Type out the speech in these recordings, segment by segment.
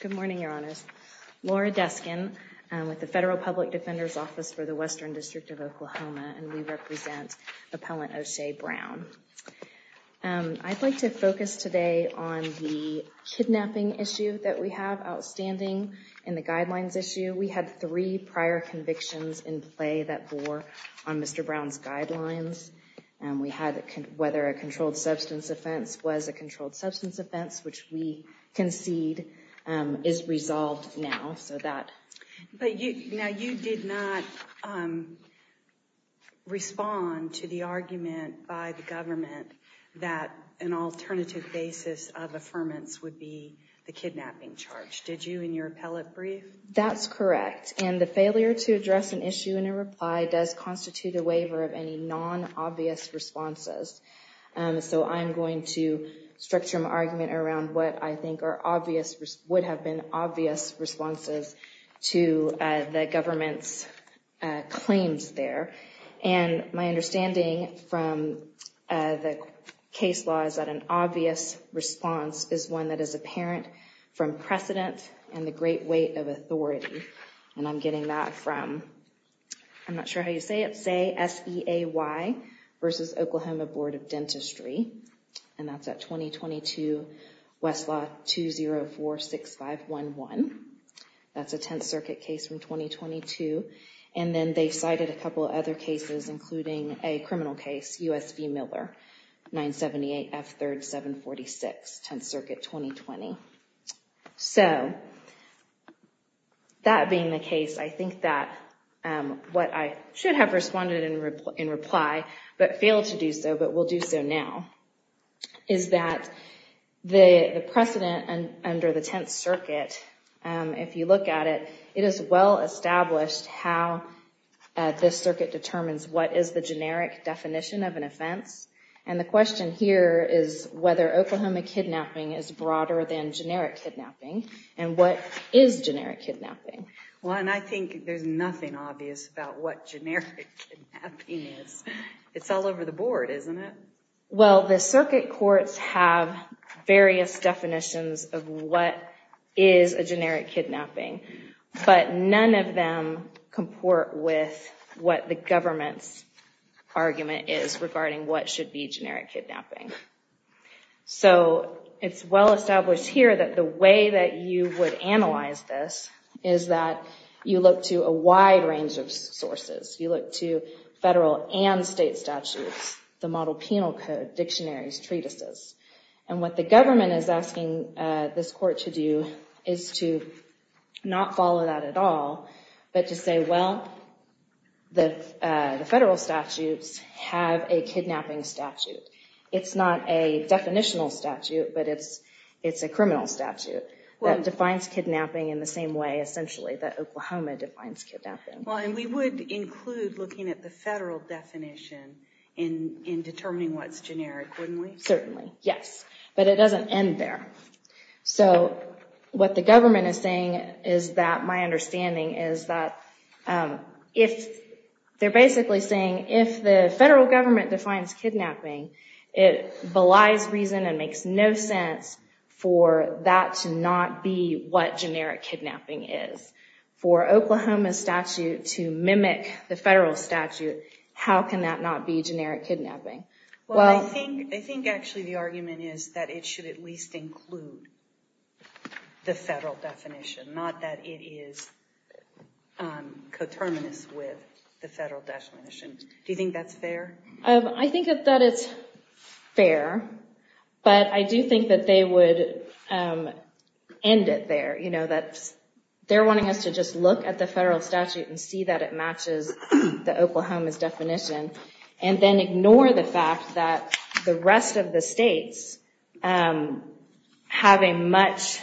Good morning, Your Honors. Laura Duskin with the Federal Public Defender's Office for the Western District of Oklahoma, and we represent Appellant O'Shea Brown. I'd like to focus today on the kidnapping issue that we have, outstanding, and the guidelines issue. We had three prior convictions in play that bore on Mr. Brown's guidelines. We had whether a controlled substance offense was a controlled substance offense, which we concede is resolved now. Now, you did not respond to the argument by the government that an alternative basis of affirmance would be the kidnapping charge, did you, in your appellate brief? That's correct, and the failure to address an issue in a reply does constitute a waiver of any non-obvious responses. So I'm going to structure my argument around what I think would have been obvious responses to the government's claims there. And my understanding from the case law is that an obvious response is one that is apparent from precedent and the great weight of authority. And I'm getting that from, I'm not sure how you say it, say S-E-A-Y versus Oklahoma Board of Dentistry, and that's at 2022 Westlaw 2046511. That's a Tenth Circuit case from 2022. And then they cited a couple of other cases, including a criminal case, U.S. v. Miller, 978 F. 3rd 746, Tenth Circuit 2020. So, that being the case, I think that what I should have responded in reply, but failed to do so, but will do so now, is that the precedent under the Tenth Circuit, if you look at it, it is well established how this circuit determines what is the generic definition of an offense. And the question here is whether Oklahoma kidnapping is broader than generic kidnapping. And what is generic kidnapping? Well, and I think there's nothing obvious about what generic kidnapping is. It's all over the board, isn't it? Well, the circuit courts have various definitions of what is a generic kidnapping, but none of them comport with what the government's argument is regarding what should be generic kidnapping. So, it's well established here that the way that you would analyze this is that you look to a wide range of sources. You look to federal and state statutes, the model penal code, dictionaries, treatises. And what the government is asking this court to do is to not follow that at all, but to say, well, the federal statutes have a kidnapping statute. It's not a definitional statute, but it's a criminal statute that defines kidnapping in the same way, essentially, that Oklahoma defines kidnapping. Well, and we would include looking at the federal definition in determining what's generic, wouldn't we? Certainly, yes. But it doesn't end there. So, what the government is saying is that, my understanding is that, they're basically saying if the federal government defines kidnapping, it belies reason and makes no sense for that to not be what generic kidnapping is. For Oklahoma's statute to mimic the federal statute, how can that not be generic kidnapping? Well, I think actually the argument is that it should at least include the federal definition, not that it is coterminous with the federal definition. Do you think that's fair? I think that it's fair, but I do think that they would end it there. They're wanting us to just look at the federal statute and see that it matches the Oklahoma's definition, and then ignore the fact that the rest of the states have a much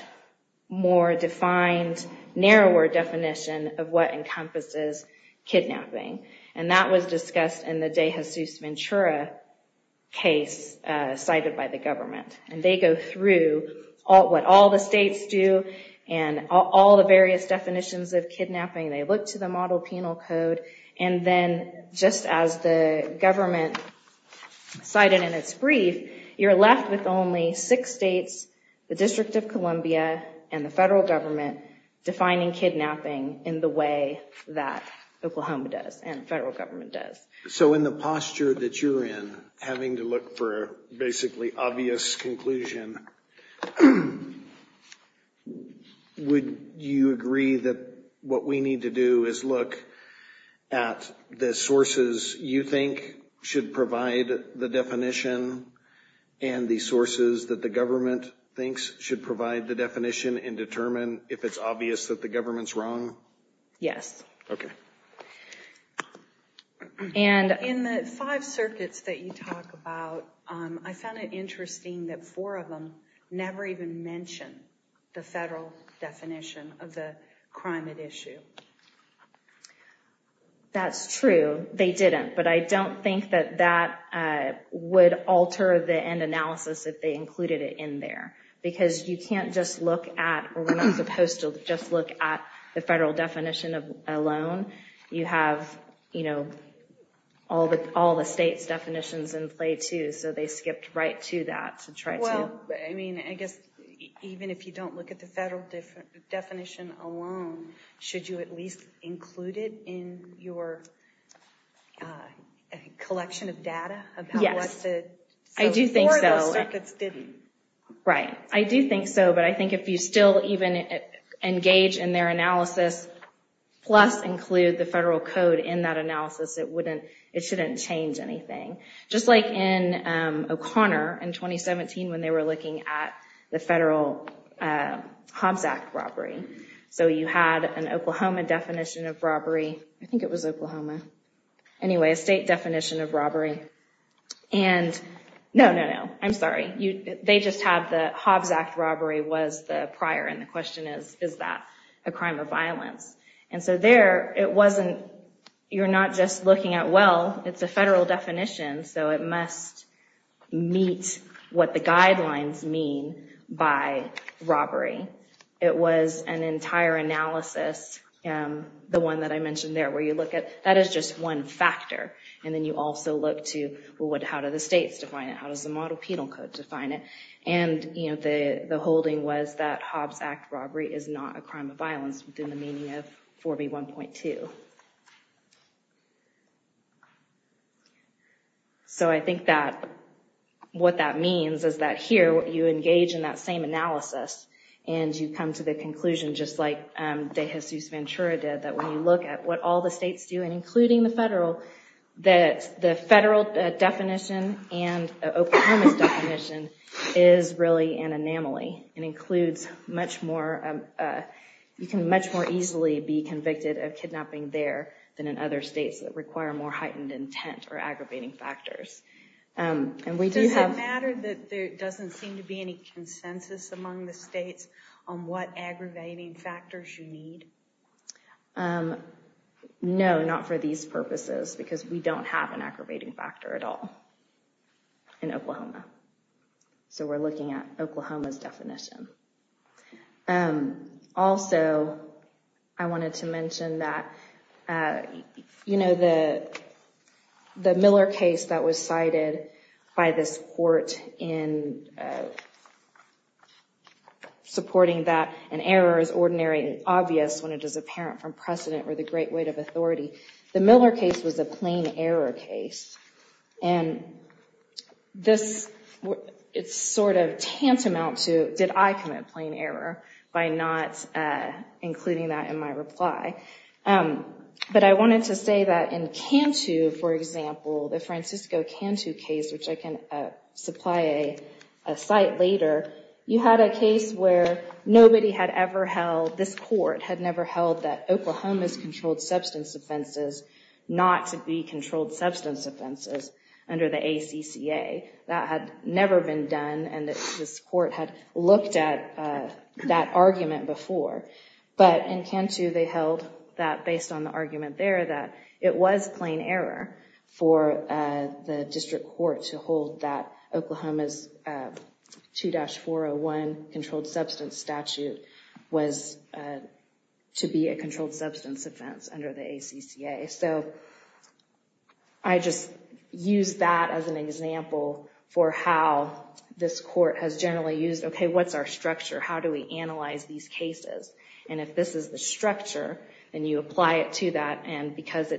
more defined, narrower definition of what encompasses kidnapping. And that was discussed in the De Jesus Ventura case cited by the government. And they go through what all the states do, and all the various definitions of kidnapping. They look to the model penal code, and then just as the government cited in its brief, you're left with only six states, the District of Columbia, and the federal government, defining kidnapping in the way that Oklahoma does and the federal government does. So in the posture that you're in, having to look for a basically obvious conclusion, would you agree that what we need to do is look at the sources you think should provide the definition, and the sources that the government thinks should provide the definition, and determine if it's obvious that the government's wrong? Yes. Okay. In the five circuits that you talk about, I found it interesting that four of them never even mention the federal definition of the crime at issue. That's true. They didn't, but I don't think that that would alter the end analysis if they included it in there. Because you can't just look at, or we're not supposed to just look at the federal definition alone. You have, you know, all the states' definitions in play, too. So they skipped right to that. Well, I mean, I guess even if you don't look at the federal definition alone, should you at least include it in your collection of data? Yes. So four of those circuits didn't. Right. I do think so, but I think if you still even engage in their analysis, plus include the federal code in that analysis, it wouldn't, it shouldn't change anything. Just like in O'Connor in 2017 when they were looking at the federal Hobbs Act robbery. So you had an Oklahoma definition of robbery. I think it was Oklahoma. Anyway, a state definition of robbery. And, no, no, no, I'm sorry. They just have the Hobbs Act robbery was the prior, and the question is, is that a crime of violence? And so there it wasn't, you're not just looking at, well, it's a federal definition, so it must meet what the guidelines mean by robbery. It was an entire analysis, the one that I mentioned there, where you look at, that is just one factor. And then you also look to, well, how do the states define it? How does the model penal code define it? And, you know, the holding was that Hobbs Act robbery is not a crime of violence, within the meaning of 4B1.2. So I think that what that means is that here you engage in that same analysis, and you come to the conclusion, just like De Jesus Ventura did, that when you look at what all the states do, and including the federal, the federal definition and Oklahoma's definition is really an anomaly. It includes much more, you can much more easily be convicted of kidnapping there than in other states that require more heightened intent or aggravating factors. Does it matter that there doesn't seem to be any consensus among the states on what aggravating factors you need? No, not for these purposes, because we don't have an aggravating factor at all in Oklahoma. So we're looking at Oklahoma's definition. Also, I wanted to mention that, you know, the Miller case that was cited by this court in supporting that an error is ordinary and obvious when it is apparent from precedent or the great weight of authority, the Miller case was a plain error case. And this, it's sort of tantamount to did I commit plain error by not including that in my reply. But I wanted to say that in Cantu, for example, the Francisco Cantu case, which I can supply a site later, you had a case where nobody had ever held, this court had never held that Oklahoma's controlled substance offenses not to be controlled substance offenses under the ACCA. That had never been done, and this court had looked at that argument before. But in Cantu, they held that, based on the argument there, that it was plain error for the district court to hold that Oklahoma's 2-401 controlled substance statute was to be a controlled substance offense under the ACCA. So I just use that as an example for how this court has generally used, okay, what's our structure, how do we analyze these cases? And if this is the structure, and you apply it to that, and because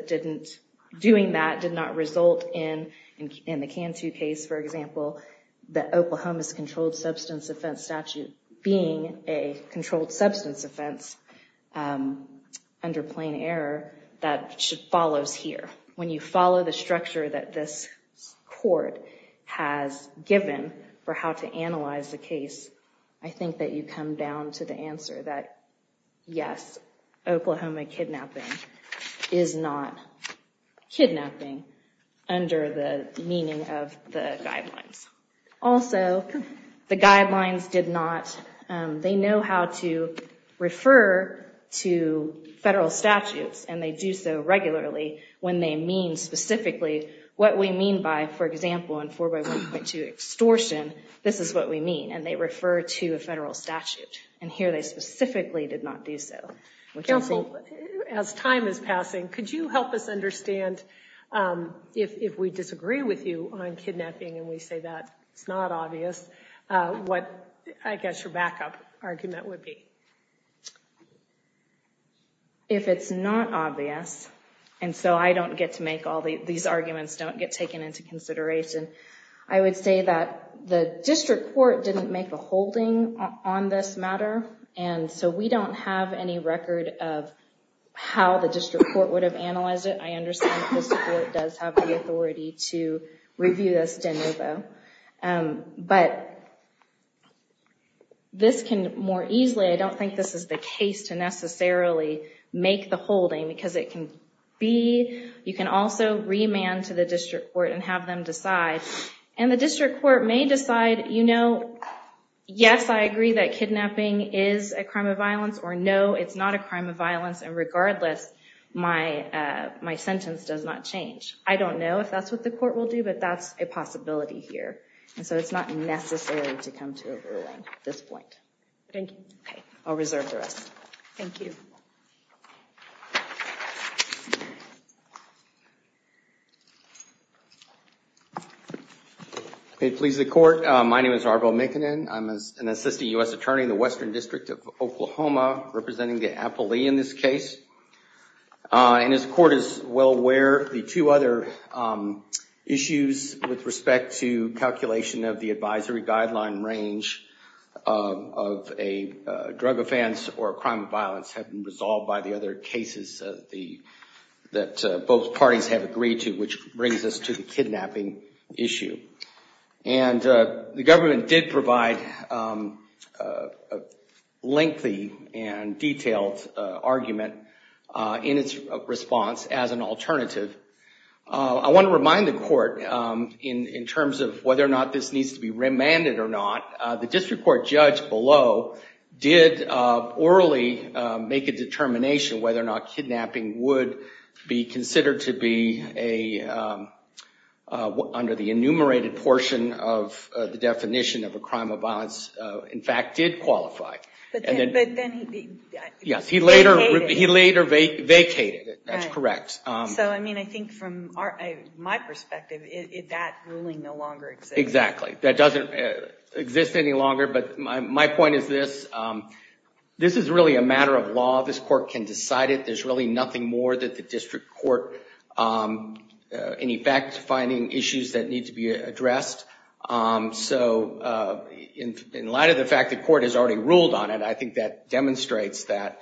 doing that did not result in the Cantu case, for example, the Oklahoma's controlled substance offense statute being a controlled substance offense under plain error, that follows here. When you follow the structure that this court has given for how to analyze the case, I think that you come down to the answer that, yes, Oklahoma kidnapping is not kidnapping under the meaning of the guidelines. Also, the guidelines did not, they know how to refer to federal statutes, and they do so regularly when they mean specifically what we mean by, for example, in 4 by 1.2 extortion, this is what we mean, and they refer to a federal statute. And here they specifically did not do so. Counsel, as time is passing, could you help us understand, if we disagree with you on kidnapping and we say that it's not obvious, what, I guess, your backup argument would be? If it's not obvious, and so I don't get to make all these arguments, don't get taken into consideration, I would say that the district court didn't make a holding on this matter, and so we don't have any record of how the district court would have analyzed it. I understand the district court does have the authority to review this de novo, but this can more easily, I don't think this is the case to necessarily make the holding, because it can be, you can also remand to the district court and have them decide, and the district court may decide, you know, yes, I agree that kidnapping is a crime of violence, or no, it's not a crime of violence, and regardless, my sentence does not change. I don't know if that's what the court will do, but that's a possibility here, and so it's not necessary to come to a ruling at this point. Thank you. Okay, I'll reserve the rest. Thank you. It pleases the court. My name is Arvo McKinnon. I'm an assistant U.S. attorney in the Western District of Oklahoma, representing the appellee in this case, and as the court is well aware, the two other issues with respect to calculation of the advisory guideline range of a drug offense or a crime of violence have been resolved by the other cases that both parties have agreed to, which brings us to the kidnapping issue, and the government did provide a lengthy and detailed argument in its response as an alternative. I want to remind the court in terms of whether or not this needs to be remanded or not, the district court judge below did orally make a determination whether or not kidnapping would be considered to be, under the enumerated portion of the definition of a crime of violence, in fact, did qualify. But then he vacated it. Yes, he later vacated it. That's correct. So, I mean, I think from my perspective, that ruling no longer exists. Exactly. That doesn't exist any longer, but my point is this. This is really a matter of law. This court can decide it. There's really nothing more that the district court, in effect, finding issues that need to be addressed. So in light of the fact the court has already ruled on it, I think that demonstrates that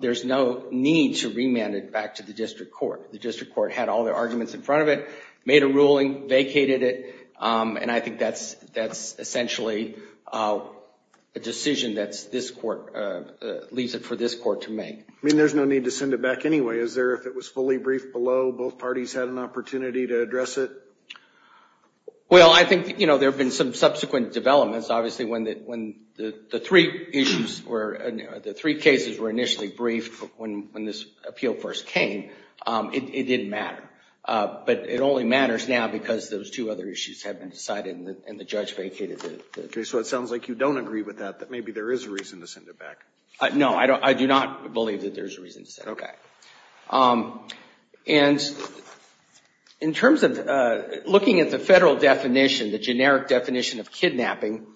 there's no need to remand it back to the district court. The district court had all their arguments in front of it, made a ruling, vacated it, and I think that's essentially a decision that leaves it for this court to make. I mean, there's no need to send it back anyway. Is there, if it was fully briefed below, both parties had an opportunity to address it? Well, I think there have been some subsequent developments. Obviously, when the three cases were initially briefed when this appeal first came, it didn't matter. But it only matters now because those two other issues have been decided and the judge vacated it. Okay. So it sounds like you don't agree with that, that maybe there is a reason to send it back. No. I do not believe that there's a reason to send it back. Okay. And in terms of looking at the Federal definition, the generic definition of kidnapping,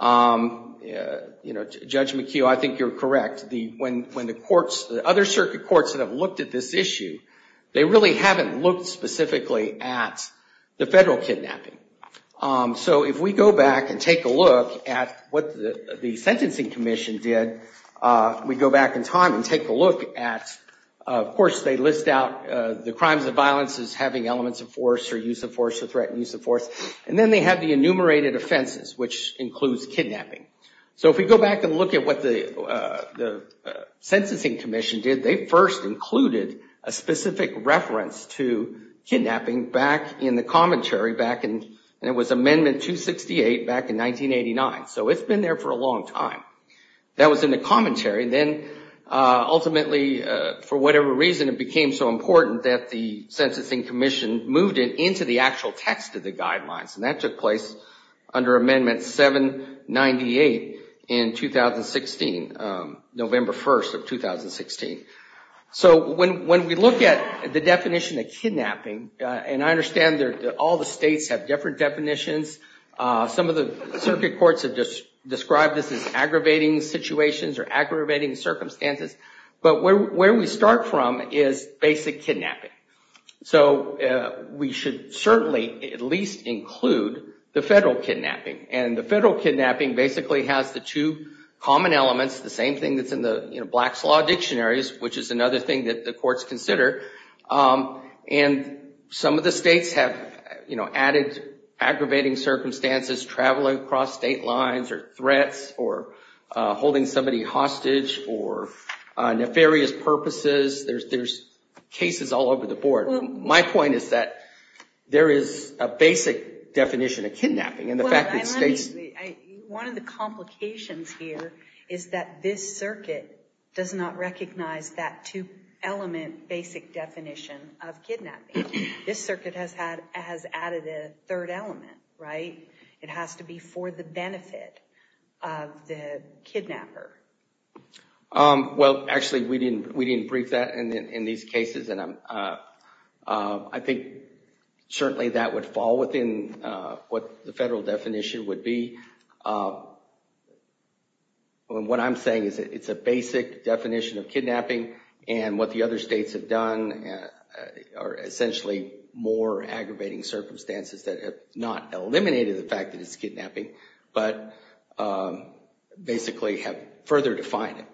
you know, Judge McHugh, I think you're correct. When the courts, the other circuit courts that have looked at this issue, they really haven't looked specifically at the Federal kidnapping. So if we go back and take a look at what the Sentencing Commission did, we go back in time and take a look at, of course, they list out the crimes of violence as having elements of force or use of force or threatened use of force. And then they have the enumerated offenses, which includes kidnapping. So if we go back and look at what the Censusing Commission did, they first included a specific reference to kidnapping back in the commentary back in, and it was Amendment 268 back in 1989. So it's been there for a long time. That was in the commentary. Then ultimately, for whatever reason, it became so important that the Censusing Commission moved it into the actual text of the Amendment 268 in 2016, November 1st of 2016. So when we look at the definition of kidnapping, and I understand that all the states have different definitions. Some of the circuit courts have described this as aggravating situations or aggravating circumstances. But where we start from is basic kidnapping. So we should certainly at least include the Federal kidnapping. And the Federal kidnapping basically has the two common elements, the same thing that's in the Black's Law Dictionaries, which is another thing that the courts consider. And some of the states have, you know, added aggravating circumstances, traveling across state lines or threats or holding somebody hostage for nefarious purposes. There's cases all over the board. My point is that there is a basic definition of kidnapping. One of the complications here is that this circuit does not recognize that two-element basic definition of kidnapping. This circuit has added a third element, right? It has to be for the benefit of the kidnapper. Well, actually, we didn't brief that in these cases. And I think certainly that would fall within what the Federal definition would be. What I'm saying is that it's a basic definition of kidnapping. And what the other states have done are essentially more aggravating circumstances that have not eliminated the fact that it's kidnapping, but basically have further defined it.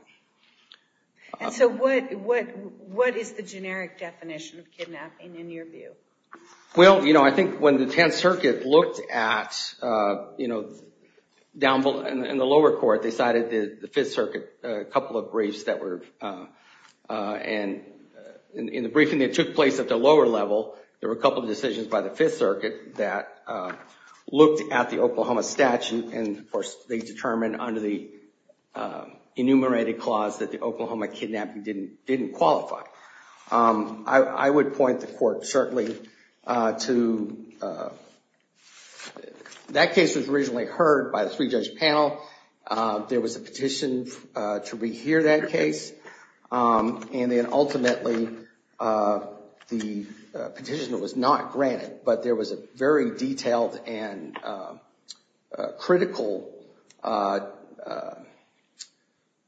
And so what is the generic definition of kidnapping in your view? Well, you know, I think when the Tenth Circuit looked at, you know, down in the lower court, they cited the Fifth Circuit, a couple of briefs that were, and in the briefing that took place at the lower level, there were a couple of decisions by the Fifth Circuit that looked at the Oklahoma statute, and of course they determined under the enumerated clause that the Oklahoma kidnapping didn't qualify. I would point the court certainly to, that case was originally heard by the three-judge panel. There was a petition to rehear that case. And then ultimately the petition was not granted, but there was a very detailed and critical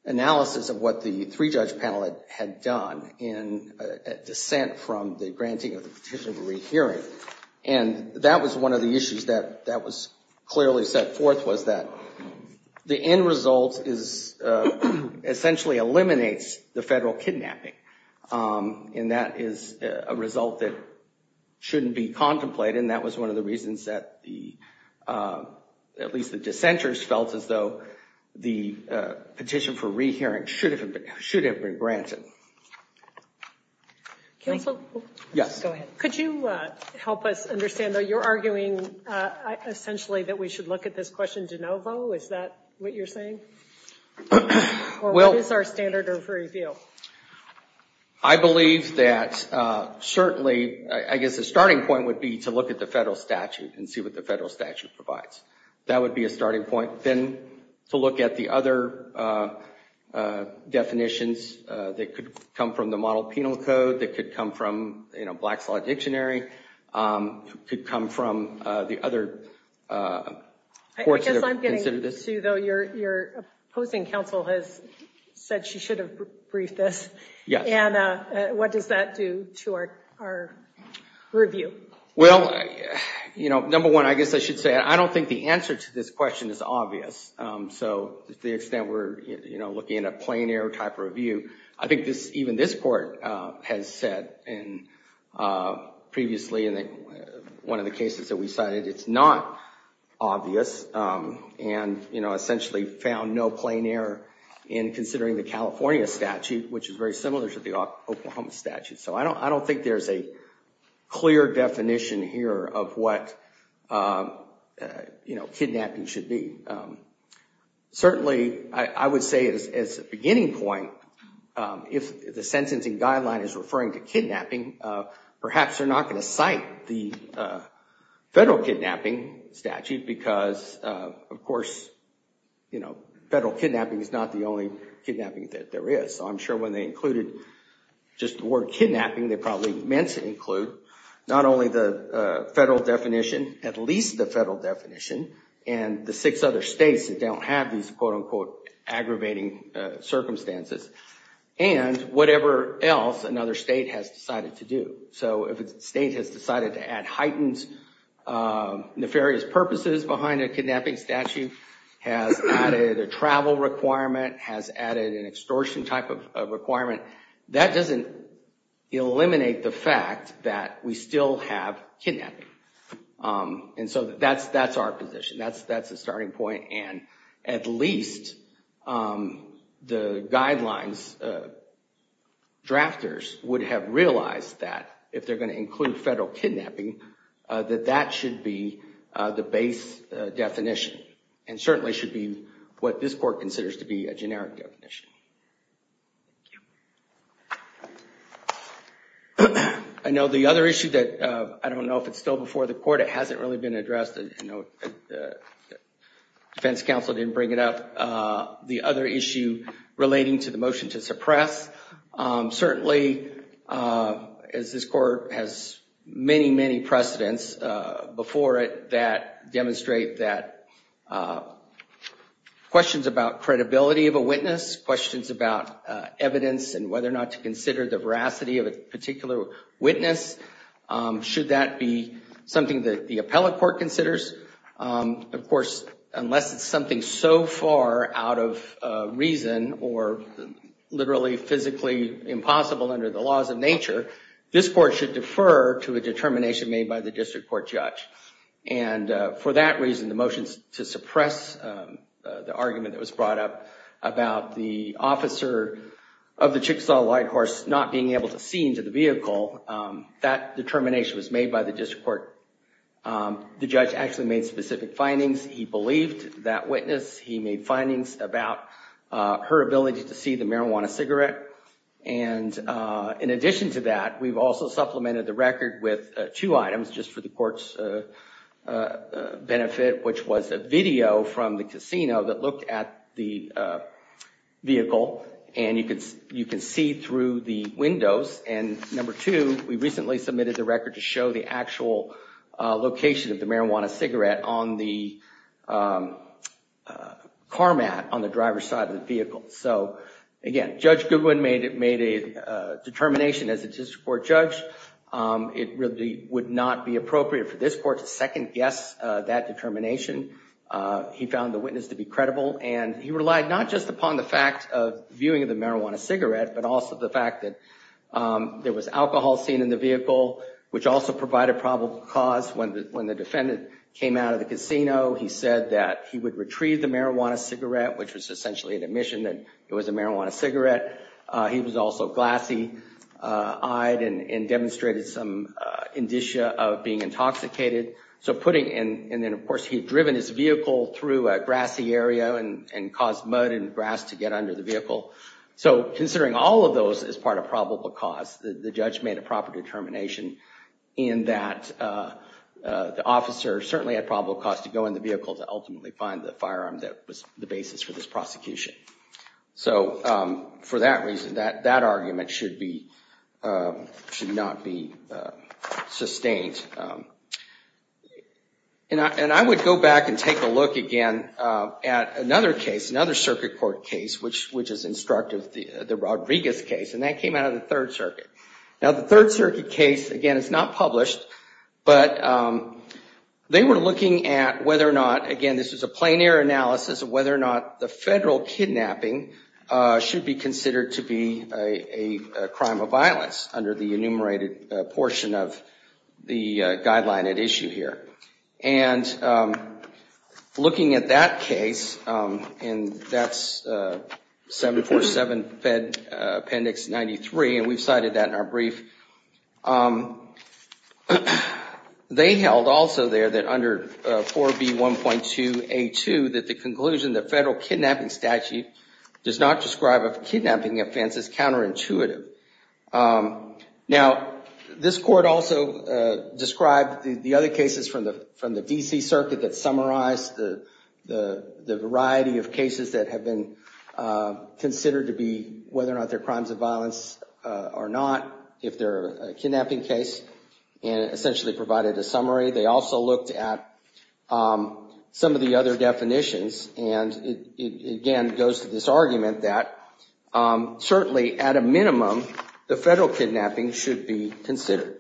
analysis of what the three-judge panel had done in a dissent from the granting of the petition of a rehearing. And that was one of the issues that was clearly set forth was that the end result essentially eliminates the federal kidnapping. And that is a result that shouldn't be contemplated, and that was one of the reasons that at least the dissenters felt as though the petition for rehearing should have been granted. Counsel? Yes. Go ahead. Could you help us understand that you're arguing essentially that we should look at this question de novo? Is that what you're saying? Or what is our standard of review? I believe that certainly, I guess the starting point would be to look at the federal statute and see what the federal statute provides. That would be a starting point. Then to look at the other definitions that could come from the model penal code, that could come from Black's Law Dictionary, could come from the other courts that have considered this. I guess I'm getting to, though, your opposing counsel has said she should have briefed us. Yes. And what does that do to our review? Well, number one, I guess I should say I don't think the answer to this question is obvious. So to the extent we're looking at a plain error type review, I think even this court has said previously in one of the cases that we cited, it's not obvious and essentially found no plain error in considering the California statute, which is very similar to the Oklahoma statute. So I don't think there's a clear definition here of what kidnapping should be. Certainly, I would say as a beginning point, if the sentencing guideline is referring to kidnapping, perhaps they're not going to cite the federal kidnapping statute because, of course, federal kidnapping is not the only kidnapping that there is. So I'm sure when they included just the word kidnapping, they probably meant to include not only the federal definition, at least the federal definition and the six other states that don't have these quote unquote aggravating circumstances and whatever else another state has decided to do. So if a state has decided to add heightened nefarious purposes behind a kidnapping statute, has added a travel requirement, has added an extortion type of requirement, that doesn't eliminate the fact that we still have kidnapping. And so that's our position. That's the starting point. And at least the guidelines drafters would have realized that if they're going to include federal kidnapping, that that should be the base definition and certainly should be what this court considers to be a generic definition. I know the other issue that I don't know if it's still before the court. It hasn't really been addressed. The defense counsel didn't bring it up. Certainly, as this court has many, many precedents before it that demonstrate that questions about credibility of a witness, questions about evidence and whether or not to consider the veracity of a particular witness, should that be something that the appellate court considers? Of course, unless it's something so far out of reason or literally physically impossible under the laws of nature, this court should defer to a determination made by the district court judge. And for that reason, the motions to suppress the argument that was brought up about the officer of the Chickasaw Light Horse not being able to see into the vehicle, that determination was made by the district court. The judge actually made specific findings. He believed that witness. He made findings about her ability to see the marijuana cigarette. And in addition to that, we've also supplemented the record with two items just for the court's benefit, which was a video from the casino that looked at the vehicle. And you can see through the windows. And number two, we recently submitted the record to show the actual location of the marijuana cigarette on the car mat on the driver's side of the vehicle. So, again, Judge Goodwin made a determination as a district court judge. It really would not be appropriate for this court to second guess that determination. And he relied not just upon the fact of viewing of the marijuana cigarette, but also the fact that there was alcohol seen in the vehicle, which also provided probable cause. When the defendant came out of the casino, he said that he would retrieve the marijuana cigarette, which was essentially an admission that it was a marijuana cigarette. He was also glassy-eyed and demonstrated some indicia of being intoxicated. And then, of course, he had driven his vehicle through a grassy area and caused mud and grass to get under the vehicle. So considering all of those as part of probable cause, the judge made a proper determination in that the officer certainly had probable cause to go in the vehicle to ultimately find the firearm that was the basis for this prosecution. So for that reason, that argument should not be sustained. And I would go back and take a look again at another case, another circuit court case, which is instructive, the Rodriguez case, and that came out of the Third Circuit. Now, the Third Circuit case, again, it's not published, but they were looking at whether or not, again, this was a plein air analysis of whether or not the federal kidnapping should be considered to be a crime of violence under the enumerated portion of the guideline at issue here. And looking at that case, and that's 747 Fed Appendix 93, and we've cited that in our brief, they held also there that under 4B1.2A2, that the conclusion of the federal kidnapping statute does not describe a kidnapping offense as counterintuitive. Now, this court also described the other cases from the D.C. Circuit that summarized the variety of cases that have been considered to be whether or not they're crimes of violence or not, if they're a kidnapping case, and essentially provided a summary. They also looked at some of the other definitions, and it, again, goes to this argument that certainly at a minimum, the federal kidnapping should be considered.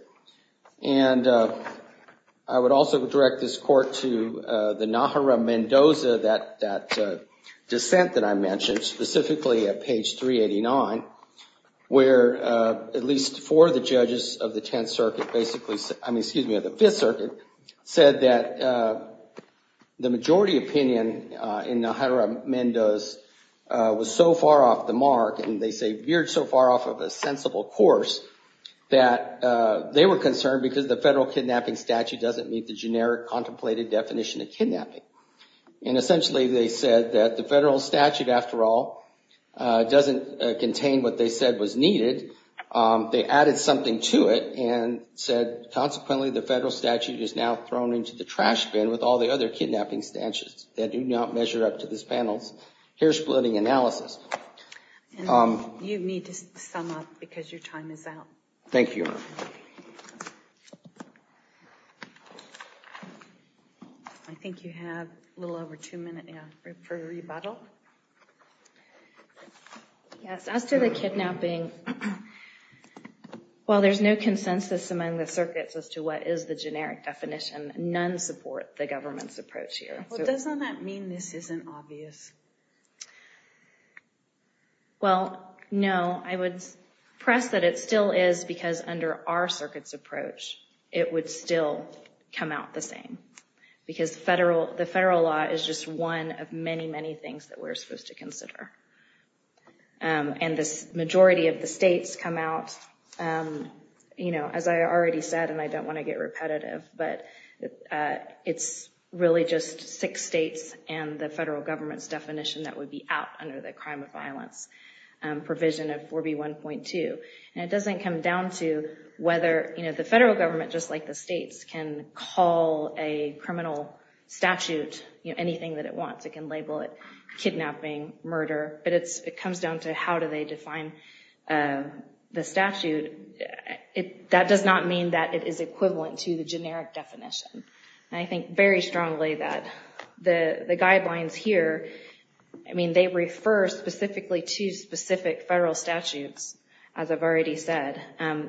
And I would also direct this court to the Nahara-Mendoza, that dissent that I mentioned, specifically at page 389, where at least four of the judges of the Tenth Circuit basically, I mean, excuse me, of the Fifth Circuit, said that the majority opinion in Nahara-Mendoza was so far off the mark, and they say veered so far off of a sensible course, that they were concerned because the federal kidnapping statute doesn't meet the generic contemplated definition of kidnapping. And essentially, they said that the federal statute, after all, doesn't contain what they said was needed. They added something to it and said, consequently, the federal statute is now thrown into the trash bin with all the other kidnapping statutes that do not measure up to this panel's hair-splitting analysis. And you need to sum up because your time is out. Thank you. I think you have a little over two minutes for rebuttal. Yes, as to the kidnapping, while there's no consensus among the circuits as to what is the generic definition, none support the government's approach here. Doesn't that mean this isn't obvious? Well, no. I would press that it still is, because under our circuit's approach, it would still come out the same, because the federal law is just one of many, many things that we're supposed to consider. And the majority of the states come out, you know, as I already said, and I don't want to get repetitive, but it's really just six states and the federal government's definition that would be out under the crime of violence provision of 4B1.2. And it doesn't come down to whether, you know, the federal government, just like the states, can call a criminal statute anything that it wants. It can label it kidnapping, murder, but it comes down to how do they define the statute. That does not mean that it is equivalent to the generic definition. And I think very strongly that the guidelines here, I mean, they refer specifically to specific federal statutes, as I've already said,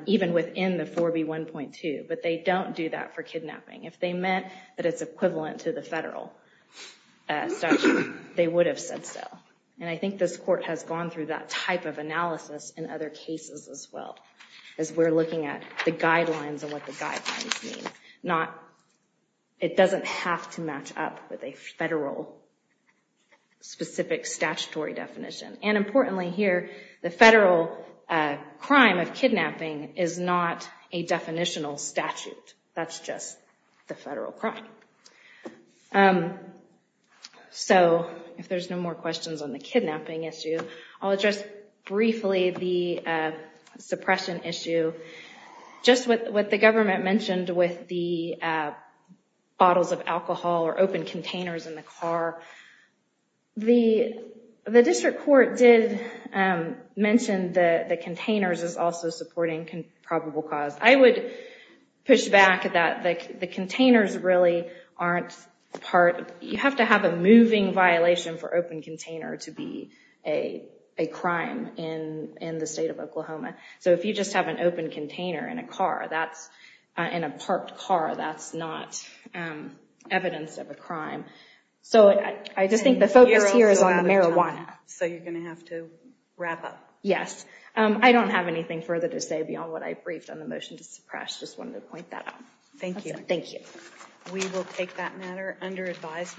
even within the 4B1.2, but they don't do that for kidnapping. If they meant that it's equivalent to the federal statute, they would have said so. And I think this court has gone through that type of analysis in other cases as well, as we're looking at the guidelines and what the guidelines mean. It doesn't have to match up with a federal specific statutory definition. And importantly here, the federal crime of kidnapping is not a definitional statute. That's just the federal crime. So if there's no more questions on the kidnapping issue, I'll address briefly the suppression issue. Just what the government mentioned with the bottles of alcohol or open containers in the car, the district court did mention that the containers is also supporting probable cause. I would push back that the containers really aren't part. You have to have a moving violation for open container to be a crime in the state of Oklahoma. So if you just have an open container in a parked car, that's not evidence of a crime. So I just think the focus here is on marijuana. So you're going to have to wrap up. Yes. I don't have anything further to say beyond what I briefed on the motion to suppress. Just wanted to point that out. Thank you. Thank you. We will take that matter under advisement.